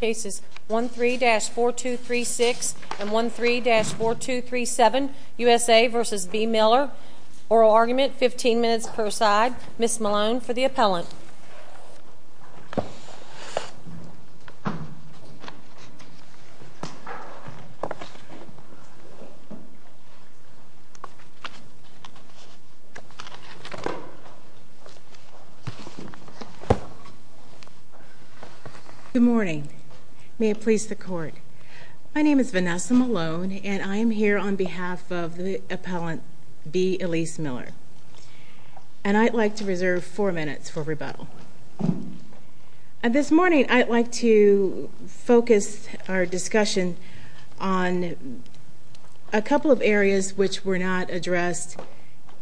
Cases 13-4236 and 13-4237 U.S.A. v. B Miller Oral argument, 15 minutes per side Ms. Malone for the appellant Good morning. May it please the court. My name is Vanessa Malone, and I am here on behalf of the appellant B. Elise Miller. And I'd like to reserve four minutes for rebuttal. This morning, I'd like to focus our discussion on a couple of areas which were not addressed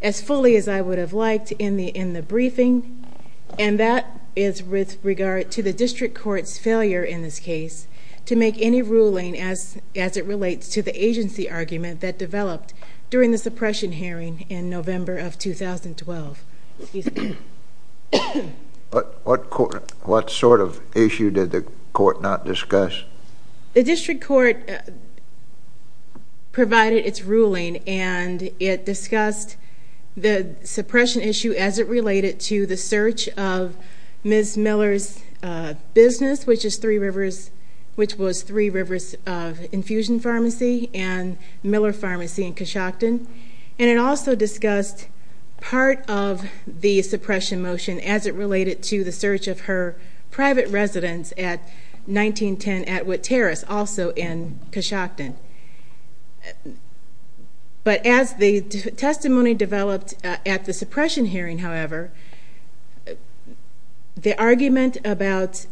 as fully as I would have liked in the briefing. And that is with regard to the district court's failure in this case to make any ruling as it relates to the agency argument that developed during the suppression hearing in November of 2012. Excuse me. What sort of issue did the court not discuss? The district court provided its ruling, and it discussed the suppression issue as it related to the search of Ms. Miller's business, which was Three Rivers Infusion Pharmacy and Miller Pharmacy in Coshocton. And it also discussed part of the suppression motion as it related to the search of her private residence at 1910 Atwood Terrace, also in Coshocton. But as the testimony developed at the suppression hearing, however, the argument about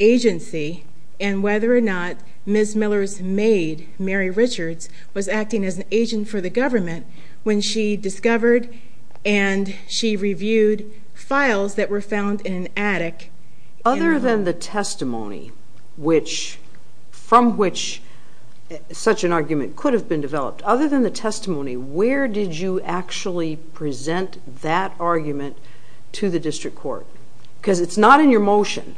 agency and whether or not Ms. Miller's maid, Mary Richards, was acting as an agent for the government when she discovered and she reviewed files that were found in an attic. Other than the testimony from which such an argument could have been developed, other than the testimony, where did you actually present that argument to the district court? Because it's not in your motion.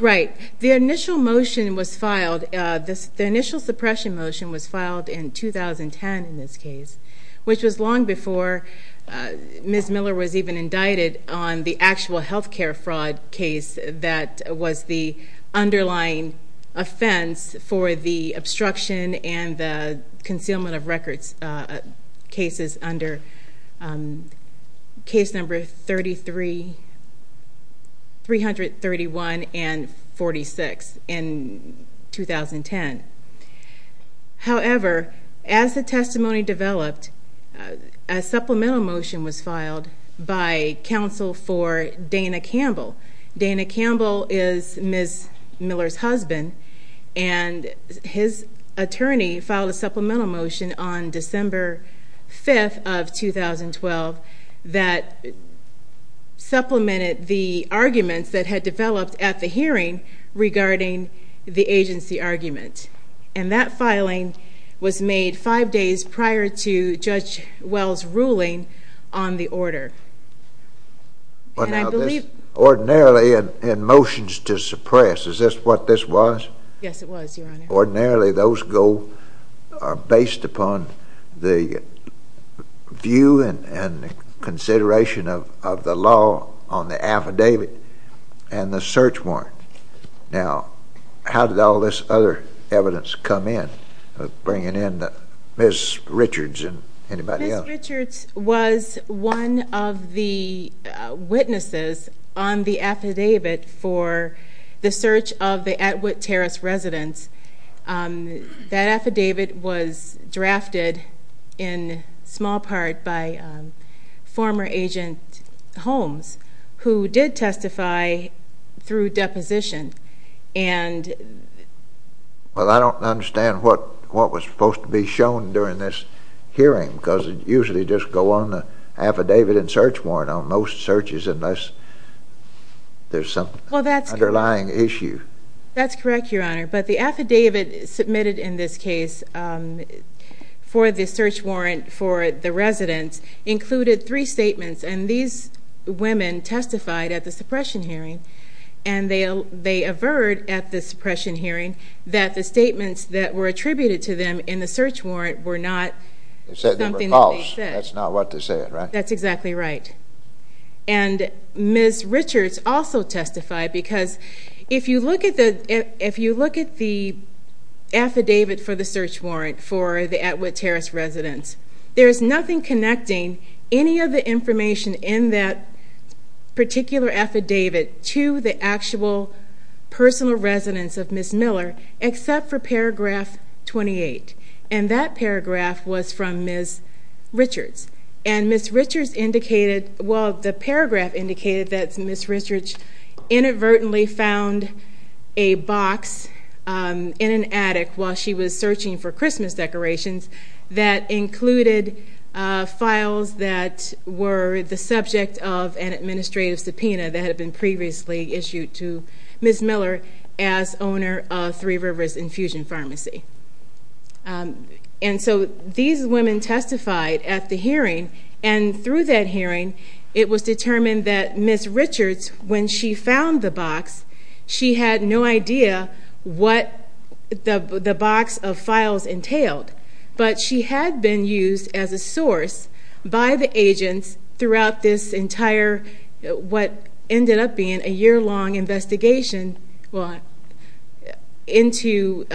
Right. The initial motion was filed. The initial suppression motion was filed in 2010 in this case, which was long before Ms. Miller was even indicted on the actual health care fraud case that was the underlying offense for the obstruction and the concealment of records cases under case number 33. 331 and 46 in 2010. However, as the testimony developed, a supplemental motion was filed by counsel for Dana Campbell. Dana Campbell is Ms. Miller's husband, and his attorney filed a supplemental motion on December 5th of 2012 that supplemented the arguments that had developed at the hearing regarding the agency argument. And that filing was made five days prior to Judge Wells' ruling on the order. Ordinarily, in motions to suppress, is this what this was? Yes, it was, Your Honor. Ordinarily, those are based upon the view and consideration of the law on the affidavit and the search warrant. Now, how did all this other evidence come in, bringing in Ms. Richards and anybody else? Ms. Richards was one of the witnesses on the affidavit for the search of the Atwood Terrace residence. That affidavit was drafted in small part by former agent Holmes, who did testify through deposition. Well, I don't understand what was supposed to be shown during this hearing, because it usually just goes on the affidavit and search warrant on most searches unless there's some underlying issue. That's correct, Your Honor. But the affidavit submitted in this case for the search warrant for the residence included three statements. And these women testified at the suppression hearing, and they averred at the suppression hearing that the statements that were attributed to them in the search warrant were not something that they said. They said they were false. That's not what they said, right? That's exactly right. And Ms. Richards also testified, because if you look at the affidavit for the search warrant for the Atwood Terrace residence, there's nothing connecting any of the information in that particular affidavit to the actual personal residence of Ms. Miller except for paragraph 28. And that paragraph was from Ms. Richards. And Ms. Richards indicated – well, the paragraph indicated that Ms. Richards inadvertently found a box in an attic while she was searching for Christmas decorations that included files that were the subject of an administrative subpoena that had been previously issued to Ms. Miller as owner of Three Rivers Infusion Pharmacy. And so these women testified at the hearing. And through that hearing, it was determined that Ms. Richards, when she found the box, she had no idea what the box of files entailed. But she had been used as a source by the agents throughout this entire – what ended up being a year-long investigation into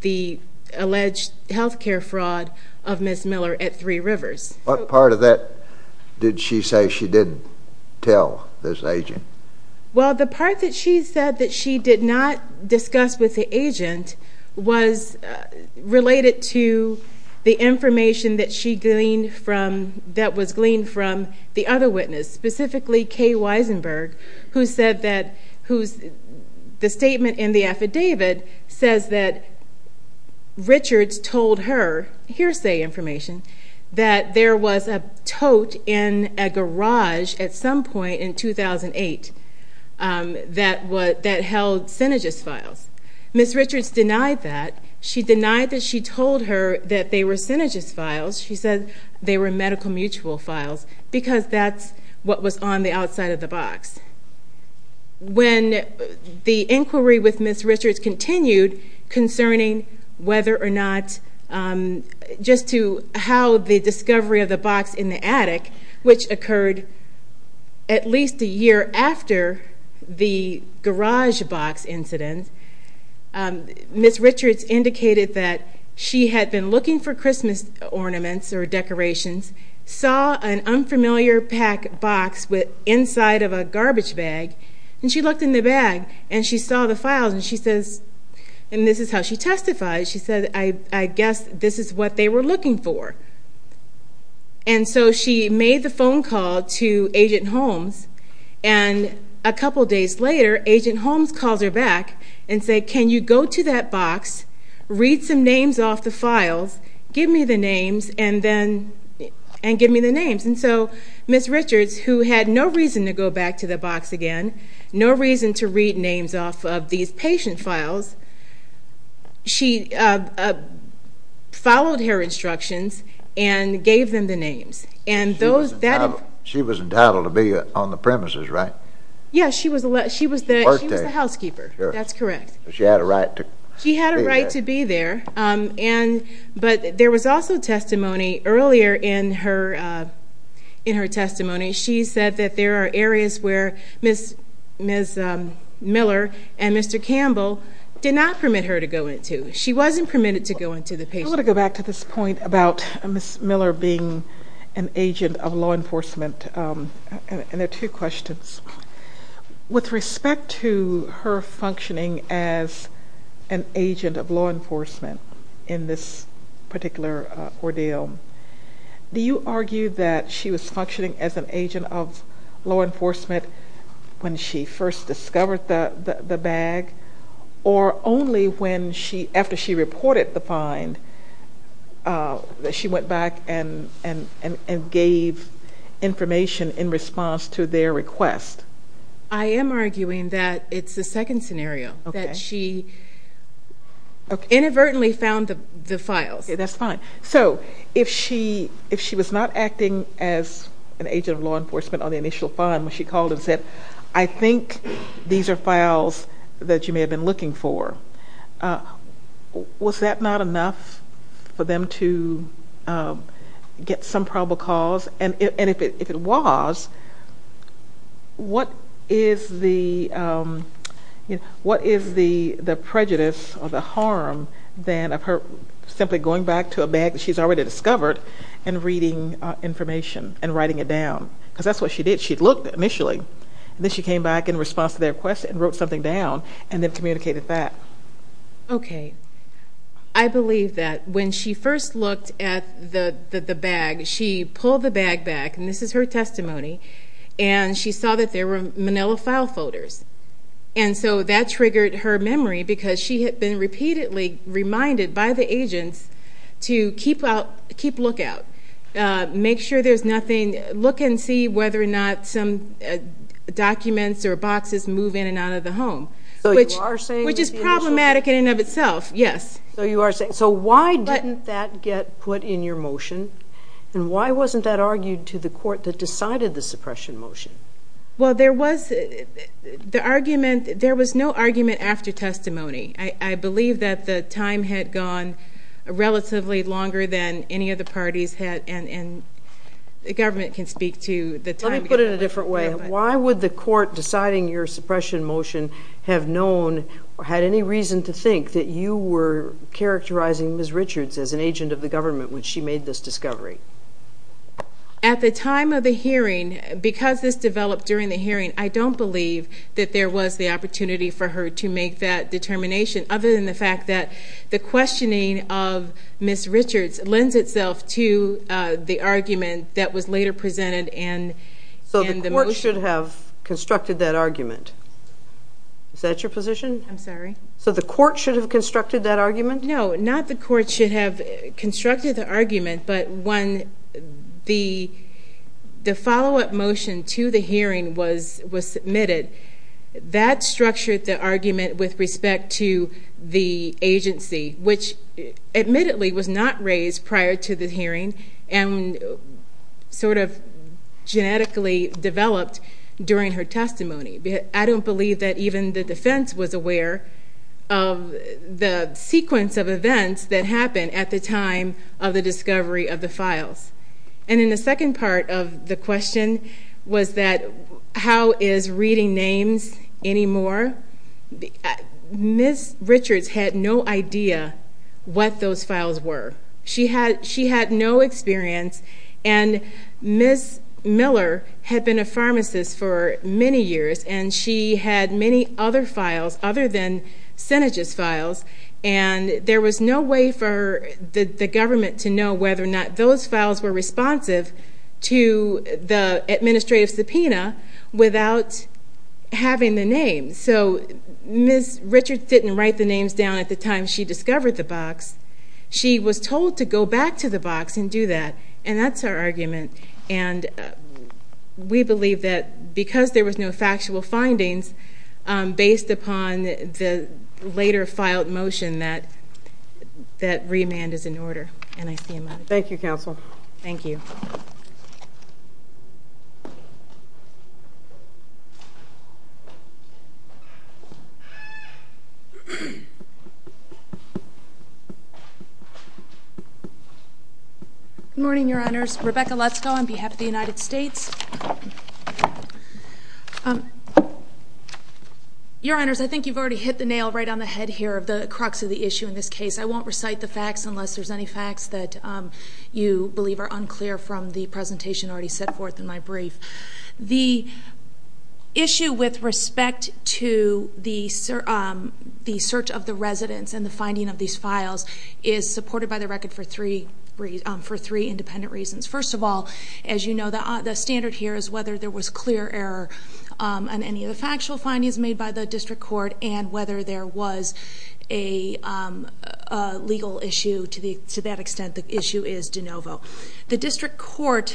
the alleged health care fraud of Ms. Miller at Three Rivers. What part of that did she say she didn't tell this agent? Well, the part that she said that she did not discuss with the agent was related to the information that she gleaned from – that was gleaned from the other witness, specifically Kay Weisenberg, who said that – who's – the statement in the affidavit says that Richards told her hearsay information that there was a tote in a garage at some point in 2008 that held Synergist files. Ms. Richards denied that. She denied that she told her that they were Synergist files. She said they were medical mutual files because that's what was on the outside of the box. When the inquiry with Ms. Richards continued concerning whether or not – just to how the discovery of the box in the attic, which occurred at least a year after the garage box incident, Ms. Richards indicated that she had been looking for Christmas ornaments or decorations, saw an unfamiliar packed box inside of a garbage bag, and she looked in the bag and she saw the files. And she says – and this is how she testified – she said, I guess this is what they were looking for. And so she made the phone call to Agent Holmes. And a couple days later, Agent Holmes calls her back and said, can you go to that box, read some names off the files, give me the names, and then – and give me the names. And so Ms. Richards, who had no reason to go back to the box again, no reason to read names off of these patient files, she followed her instructions and gave them the names. She was entitled to be on the premises, right? Yes, she was the housekeeper. That's correct. She had a right to be there. But there was also testimony earlier in her testimony. She said that there are areas where Ms. Miller and Mr. Campbell did not permit her to go into. She wasn't permitted to go into the patient. I want to go back to this point about Ms. Miller being an agent of law enforcement. And there are two questions. With respect to her functioning as an agent of law enforcement in this particular ordeal, do you argue that she was functioning as an agent of law enforcement when she first discovered the bag? Or only after she reported the find that she went back and gave information in response to their request? I am arguing that it's the second scenario, that she inadvertently found the files. That's fine. So if she was not acting as an agent of law enforcement on the initial find, when she called and said, I think these are files that you may have been looking for, was that not enough for them to get some probable cause? And if it was, what is the prejudice or the harm then of her simply going back to a bag that she's already discovered and reading information and writing it down? Because that's what she did. She looked initially, and then she came back in response to their request and wrote something down and then communicated that. Okay. I believe that when she first looked at the bag, she pulled the bag back, and this is her testimony, and she saw that there were Manila file folders. And so that triggered her memory because she had been repeatedly reminded by the agents to keep lookout, make sure there's nothing, look and see whether or not some documents or boxes move in and out of the home, which is problematic in and of itself. Yes. So why didn't that get put in your motion, and why wasn't that argued to the court that decided the suppression motion? Well, there was no argument after testimony. I believe that the time had gone relatively longer than any of the parties had, and the government can speak to the time. Let me put it a different way. Why would the court deciding your suppression motion have known or had any reason to think that you were characterizing Ms. Richards as an agent of the government when she made this discovery? At the time of the hearing, because this developed during the hearing, I don't believe that there was the opportunity for her to make that determination, other than the fact that the questioning of Ms. Richards lends itself to the argument that was later presented in the motion. They should have constructed that argument. Is that your position? I'm sorry? So the court should have constructed that argument? No, not the court should have constructed the argument, but when the follow-up motion to the hearing was submitted, that structured the argument with respect to the agency, which admittedly was not raised prior to the hearing and sort of genetically developed during her testimony. I don't believe that even the defense was aware of the sequence of events that happened at the time of the discovery of the files. And then the second part of the question was that how is reading names any more? Ms. Richards had no idea what those files were. She had no experience, and Ms. Miller had been a pharmacist for many years, and she had many other files other than Synagis files, and there was no way for the government to know whether or not those files were responsive to the administrative subpoena without having the names. So Ms. Richards didn't write the names down at the time she discovered the box. She was told to go back to the box and do that, and that's her argument. And we believe that because there was no factual findings, based upon the later filed motion, that remand is in order. Thank you, counsel. Thank you. Good morning, Your Honors. Rebecca Lutzko on behalf of the United States. Your Honors, I think you've already hit the nail right on the head here of the crux of the issue in this case. I won't recite the facts unless there's any facts that you believe are unclear from the presentation already set forth in my brief. The issue with respect to the search of the residents and the finding of these files is supported by the record for three independent reasons. First of all, as you know, the standard here is whether there was clear error on any of the factual findings made by the district court and whether there was a legal issue to that extent. The issue is de novo. The district court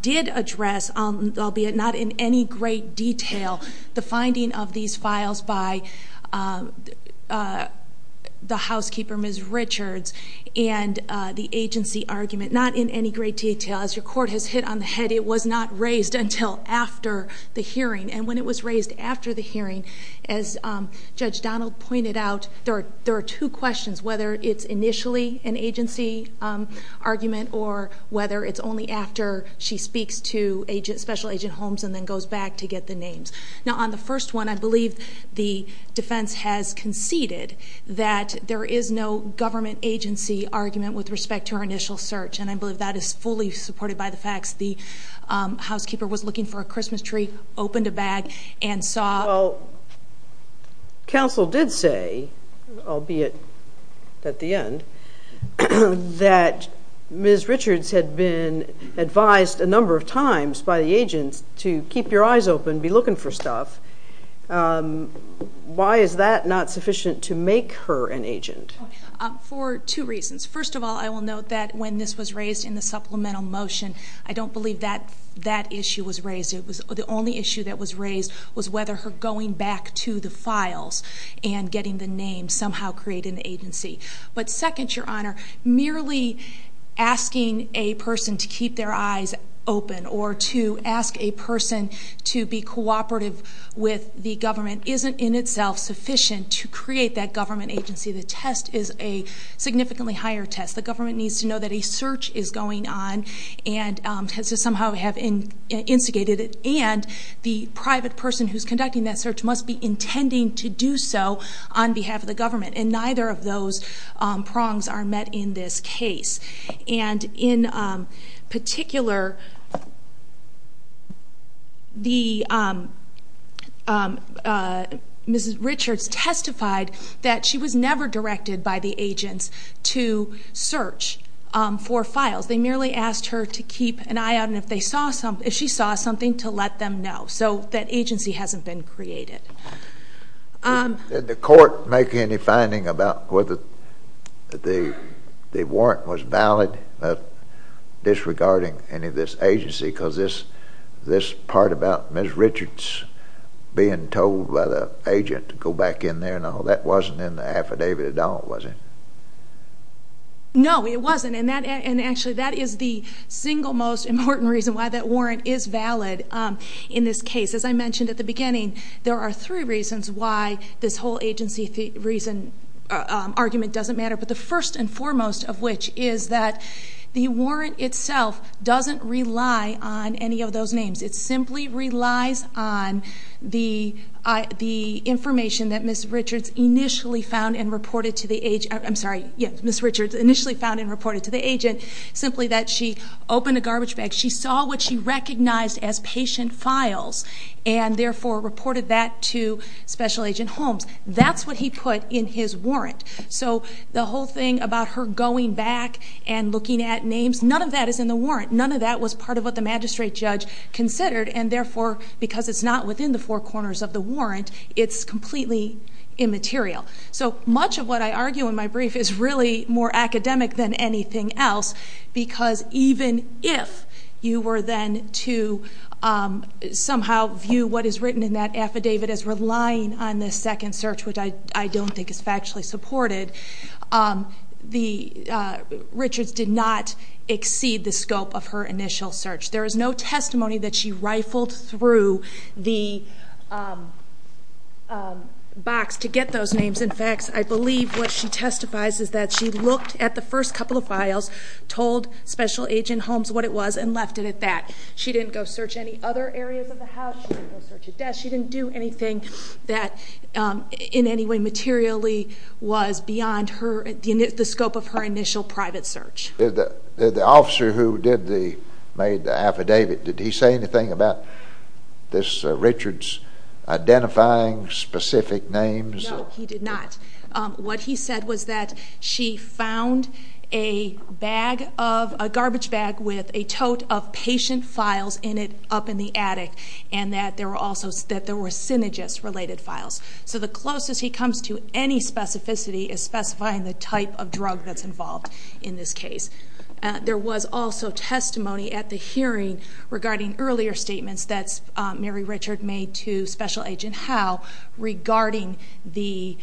did address, albeit not in any great detail, the finding of these files by the housekeeper, Ms. Richards, and the agency argument. Not in any great detail. As your court has hit on the head, it was not raised until after the hearing. And when it was raised after the hearing, as Judge Donald pointed out, there are two questions, whether it's initially an agency argument or whether it's only after she speaks to Special Agent Holmes and then goes back to get the names. Now, on the first one, I believe the defense has conceded that there is no government agency argument with respect to her initial search, and I believe that is fully supported by the facts. The housekeeper was looking for a Christmas tree, opened a bag, and saw. Well, counsel did say, albeit at the end, that Ms. Richards had been advised a number of times by the agents to keep your eyes open, be looking for stuff. Why is that not sufficient to make her an agent? For two reasons. First of all, I will note that when this was raised in the supplemental motion, I don't believe that issue was raised. The only issue that was raised was whether her going back to the files and getting the names somehow created an agency. But second, Your Honor, merely asking a person to keep their eyes open or to ask a person to be cooperative with the government isn't in itself sufficient to create that government agency. The test is a significantly higher test. The government needs to know that a search is going on and has to somehow have instigated it, and the private person who's conducting that search must be intending to do so on behalf of the government. And neither of those prongs are met in this case. And in particular, Ms. Richards testified that she was never directed by the agents to search for files. They merely asked her to keep an eye out, and if she saw something, to let them know. So that agency hasn't been created. Did the court make any finding about whether the warrant was valid disregarding any of this agency? Because this part about Ms. Richards being told by the agent to go back in there and all, that wasn't in the affidavit at all, was it? No, it wasn't. And, actually, that is the single most important reason why that warrant is valid in this case. As I mentioned at the beginning, there are three reasons why this whole agency reason argument doesn't matter. But the first and foremost of which is that the warrant itself doesn't rely on any of those names. It simply relies on the information that Ms. Richards initially found and reported to the agency. Ms. Richards initially found and reported to the agent simply that she opened a garbage bag. She saw what she recognized as patient files and, therefore, reported that to Special Agent Holmes. That's what he put in his warrant. So the whole thing about her going back and looking at names, none of that is in the warrant. None of that was part of what the magistrate judge considered, and, therefore, because it's not within the four corners of the warrant, it's completely immaterial. So much of what I argue in my brief is really more academic than anything else because even if you were then to somehow view what is written in that affidavit as relying on the second search, which I don't think is factually supported, Richards did not exceed the scope of her initial search. There is no testimony that she rifled through the box to get those names. In fact, I believe what she testifies is that she looked at the first couple of files, told Special Agent Holmes what it was, and left it at that. She didn't go search any other areas of the house. She didn't go search a desk. She didn't do anything that in any way materially was beyond the scope of her initial private search. The officer who made the affidavit, did he say anything about Richards identifying specific names? No, he did not. What he said was that she found a garbage bag with a tote of patient files in it up in the attic and that there were also synergist-related files. So the closest he comes to any specificity is specifying the type of drug that's involved in this case. There was also testimony at the hearing regarding earlier statements that Mary Richards made to Special Agent Howe regarding the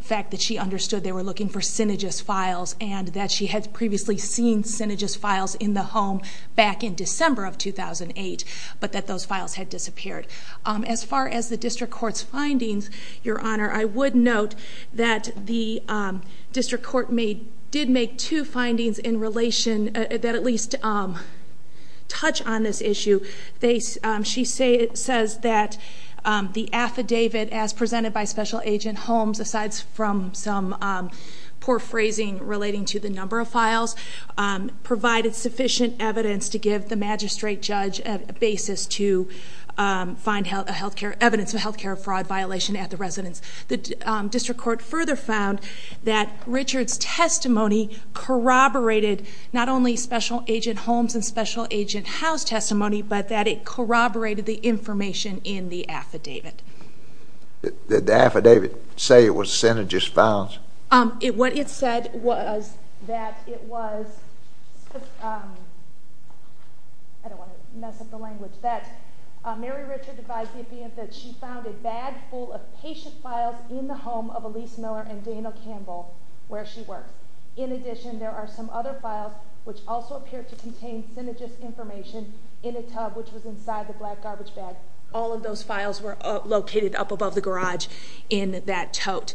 fact that she understood they were looking for synergist files and that she had previously seen synergist files in the home back in December of 2008, but that those files had disappeared. As far as the district court's findings, Your Honor, I would note that the district court did make two findings that at least touch on this issue. She says that the affidavit, as presented by Special Agent Holmes, aside from some poor phrasing relating to the number of files, provided sufficient evidence to give the magistrate judge a basis to find evidence of a health care fraud violation at the residence. The district court further found that Richards' testimony corroborated not only Special Agent Holmes and Special Agent Howe's testimony, but that it corroborated the information in the affidavit. Did the affidavit say it was synergist files? What it said was that it was, I don't want to mess up the language, that Mary Richards advised the affidavit that she found a bag full of patient files in the home of Elise Miller and Dana Campbell, where she worked. In addition, there are some other files which also appear to contain synergist information in a tub which was inside the black garbage bag. All of those files were located up above the garage in that tote.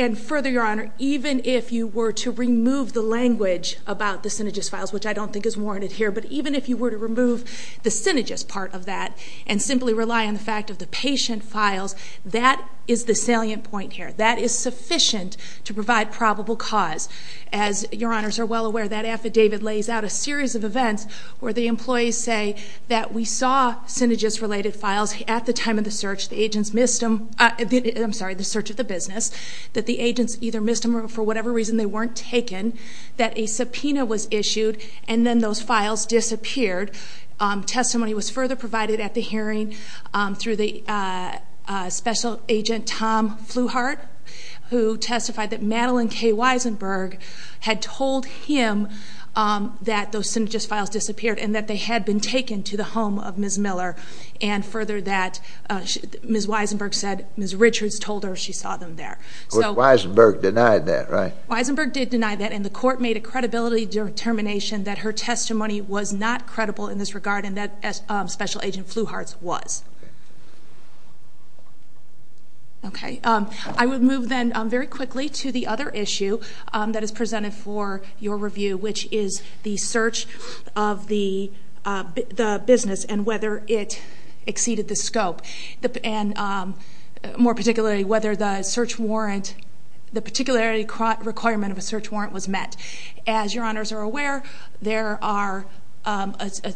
And further, Your Honor, even if you were to remove the language about the synergist files, which I don't think is warranted here, but even if you were to remove the synergist part of that and simply rely on the fact of the patient files, that is the salient point here. That is sufficient to provide probable cause. As Your Honors are well aware, that affidavit lays out a series of events where the employees say that we saw synergist-related files at the time of the search. The agents missed them. I'm sorry, the search of the business. That the agents either missed them or for whatever reason they weren't taken. That a subpoena was issued and then those files disappeared. Testimony was further provided at the hearing through the Special Agent Tom Flewhart, who testified that Madeline K. Weisenberg had told him that those synergist files disappeared and that they had been taken to the home of Ms. Miller. And further that, Ms. Weisenberg said Ms. Richards told her she saw them there. But Weisenberg denied that, right? Weisenberg did deny that and the court made a credibility determination that her testimony was not credible in this regard and that Special Agent Flewhart's was. Okay. I would move then very quickly to the other issue that is presented for your review, which is the search of the business and whether it exceeded the scope. And more particularly, whether the particular requirement of a search warrant was met. As your honors are aware, there are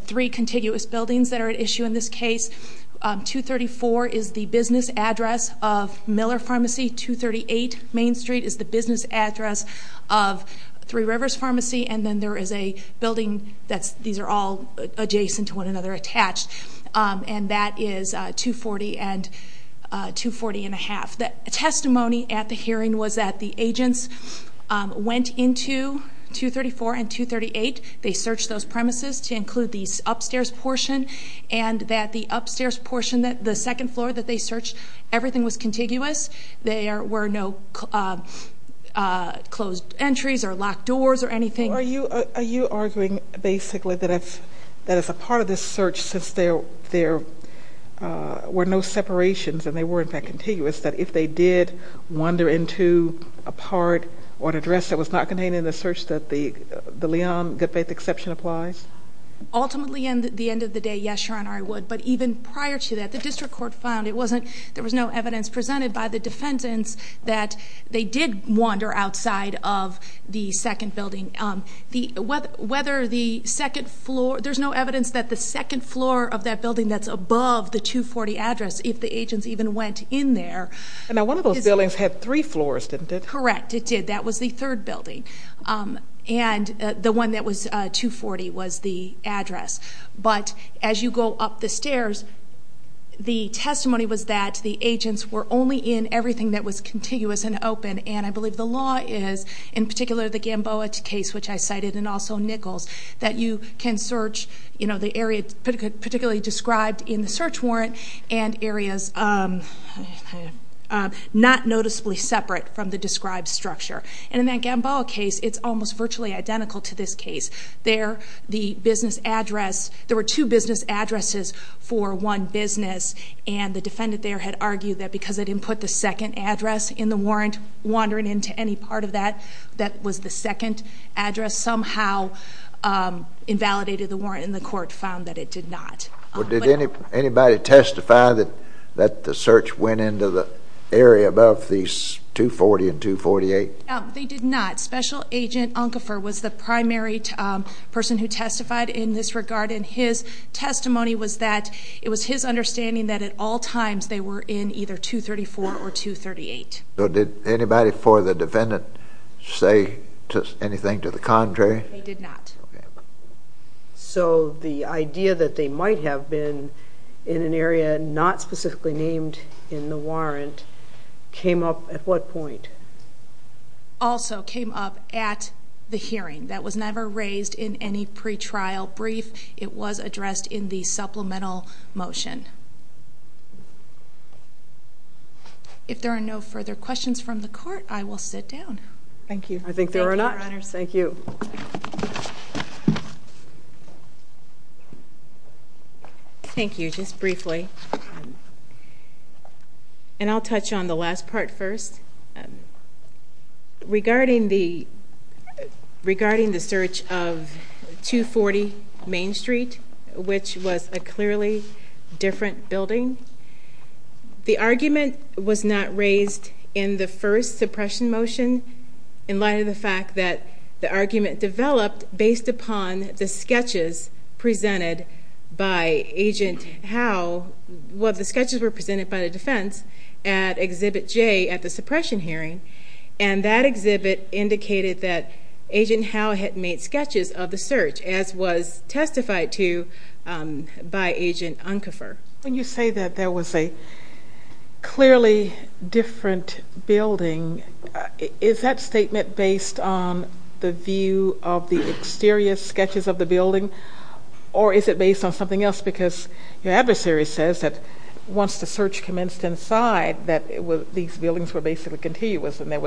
three contiguous buildings that are at issue in this case. 234 is the business address of Miller Pharmacy. 238 Main Street is the business address of Three Rivers Pharmacy. And then there is a building that these are all adjacent to one another attached. And that is 240 and 240 1⁄2. The testimony at the hearing was that the agents went into 234 and 238. They searched those premises to include the upstairs portion. And that the upstairs portion, the second floor that they searched, everything was contiguous. There were no closed entries or locked doors or anything. Are you arguing basically that as a part of this search, since there were no separations and they were, in fact, contiguous, that if they did wander into a part or an address that was not contained in the search that the Leon Goodfaith exception applies? Ultimately, at the end of the day, yes, your honor, I would. But even prior to that, the district court found there was no evidence presented by the defendants that they did wander outside of the second building. There's no evidence that the second floor of that building that's above the 240 address, if the agents even went in there- Now, one of those buildings had three floors, didn't it? Correct, it did. That was the third building. And the one that was 240 was the address. But as you go up the stairs, the testimony was that the agents were only in everything that was contiguous and open. And I believe the law is, in particular the Gamboa case, which I cited, and also Nichols, that you can search the area particularly described in the search warrant and areas not noticeably separate from the described structure. And in that Gamboa case, it's almost virtually identical to this case. There, the business address, there were two business addresses for one business, and the defendant there had argued that because they didn't put the second address in the warrant, wandering into any part of that that was the second address, somehow invalidated the warrant, and the court found that it did not. Did anybody testify that the search went into the area above these 240 and 248? No, they did not. Special Agent Unkefer was the primary person who testified in this regard, and his testimony was that it was his understanding that at all times they were in either 234 or 238. So did anybody for the defendant say anything to the contrary? They did not. So the idea that they might have been in an area not specifically named in the warrant came up at what point? Also came up at the hearing. That was never raised in any pretrial brief. It was addressed in the supplemental motion. If there are no further questions from the court, I will sit down. Thank you. I think there are not. Thank you, Your Honors. Thank you. Thank you, just briefly. And I'll touch on the last part first. Regarding the search of 240 Main Street, which was a clearly different building, the argument was not raised in the first suppression motion in light of the fact that the argument developed based upon the sketches presented by Agent Howe. Well, the sketches were presented by the defense at Exhibit J at the suppression hearing, and that exhibit indicated that Agent Howe had made sketches of the search, as was testified to by Agent Unkefer. When you say that there was a clearly different building, is that statement based on the view of the exterior sketches of the building, or is it based on something else? Because your adversary says that once the search commenced inside that these buildings were basically continuous and there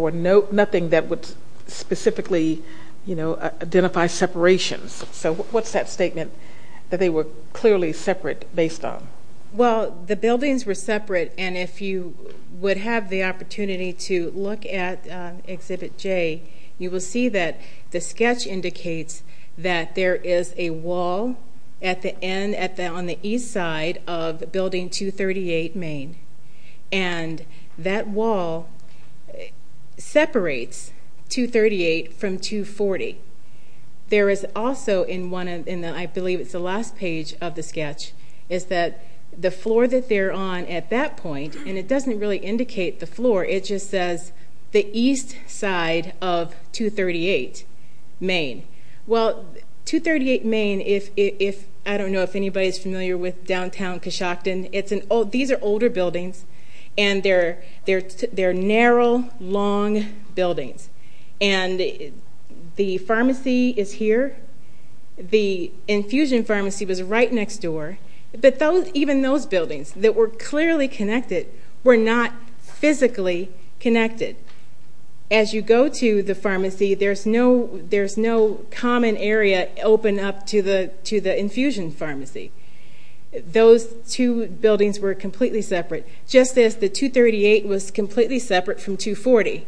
was nothing that would specifically identify separations. So what's that statement that they were clearly separate based on? Well, the buildings were separate, and if you would have the opportunity to look at Exhibit J, you will see that the sketch indicates that there is a wall on the east side of Building 238 Main, and that wall separates 238 from 240. There is also, I believe it's the last page of the sketch, is that the floor that they're on at that point, and it doesn't really indicate the floor, it just says the east side of 238 Main. Well, 238 Main, I don't know if anybody's familiar with downtown Coshocton. These are older buildings, and they're narrow, long buildings. And the pharmacy is here. The infusion pharmacy was right next door. But even those buildings that were clearly connected were not physically connected. As you go to the pharmacy, there's no common area open up to the infusion pharmacy. Those two buildings were completely separate, just as the 238 was completely separate from 240.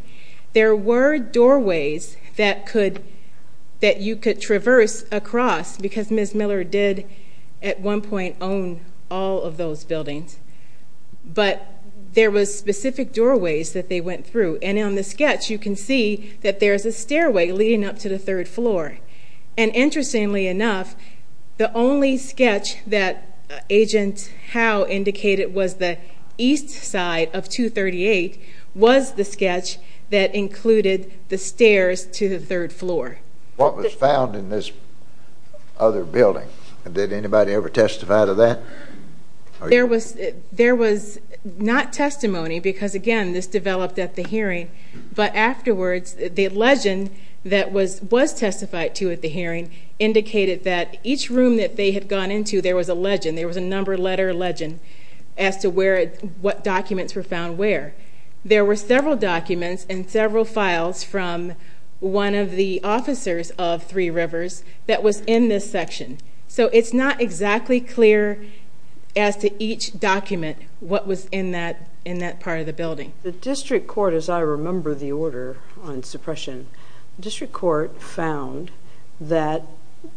There were doorways that you could traverse across, because Ms. Miller did, at one point, own all of those buildings. But there was specific doorways that they went through. And on the sketch, you can see that there's a stairway leading up to the third floor. And interestingly enough, the only sketch that Agent Howe indicated was the east side of 238 was the sketch that included the stairs to the third floor. What was found in this other building? Did anybody ever testify to that? There was not testimony, because, again, this developed at the hearing. But afterwards, the legend that was testified to at the hearing indicated that each room that they had gone into, there was a legend. There was a number letter legend as to what documents were found where. There were several documents and several files from one of the officers of Three Rivers that was in this section. So it's not exactly clear as to each document what was in that part of the building. The district court, as I remember the order on suppression, the district court found that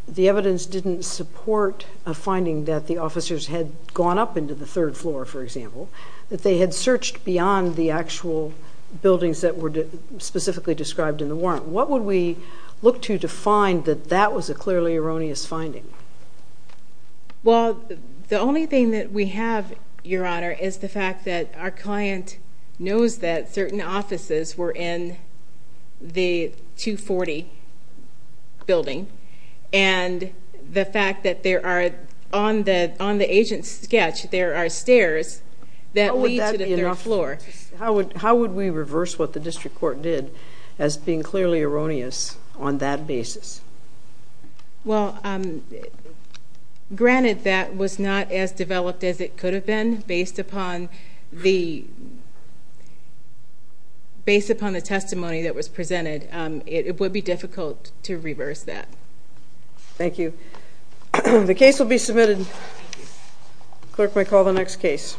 the evidence didn't support a finding that the officers had gone up into the third floor, for example, that they had searched beyond the actual buildings that were specifically described in the warrant. What would we look to to find that that was a clearly erroneous finding? Well, the only thing that we have, Your Honor, is the fact that our client knows that certain offices were in the 240 building and the fact that on the agent's sketch, there are stairs that lead to the third floor. How would we reverse what the district court did as being clearly erroneous on that basis? Well, granted that was not as developed as it could have been based upon the testimony that was presented. It would be difficult to reverse that. Thank you. The case will be submitted. Clerk may call the next case.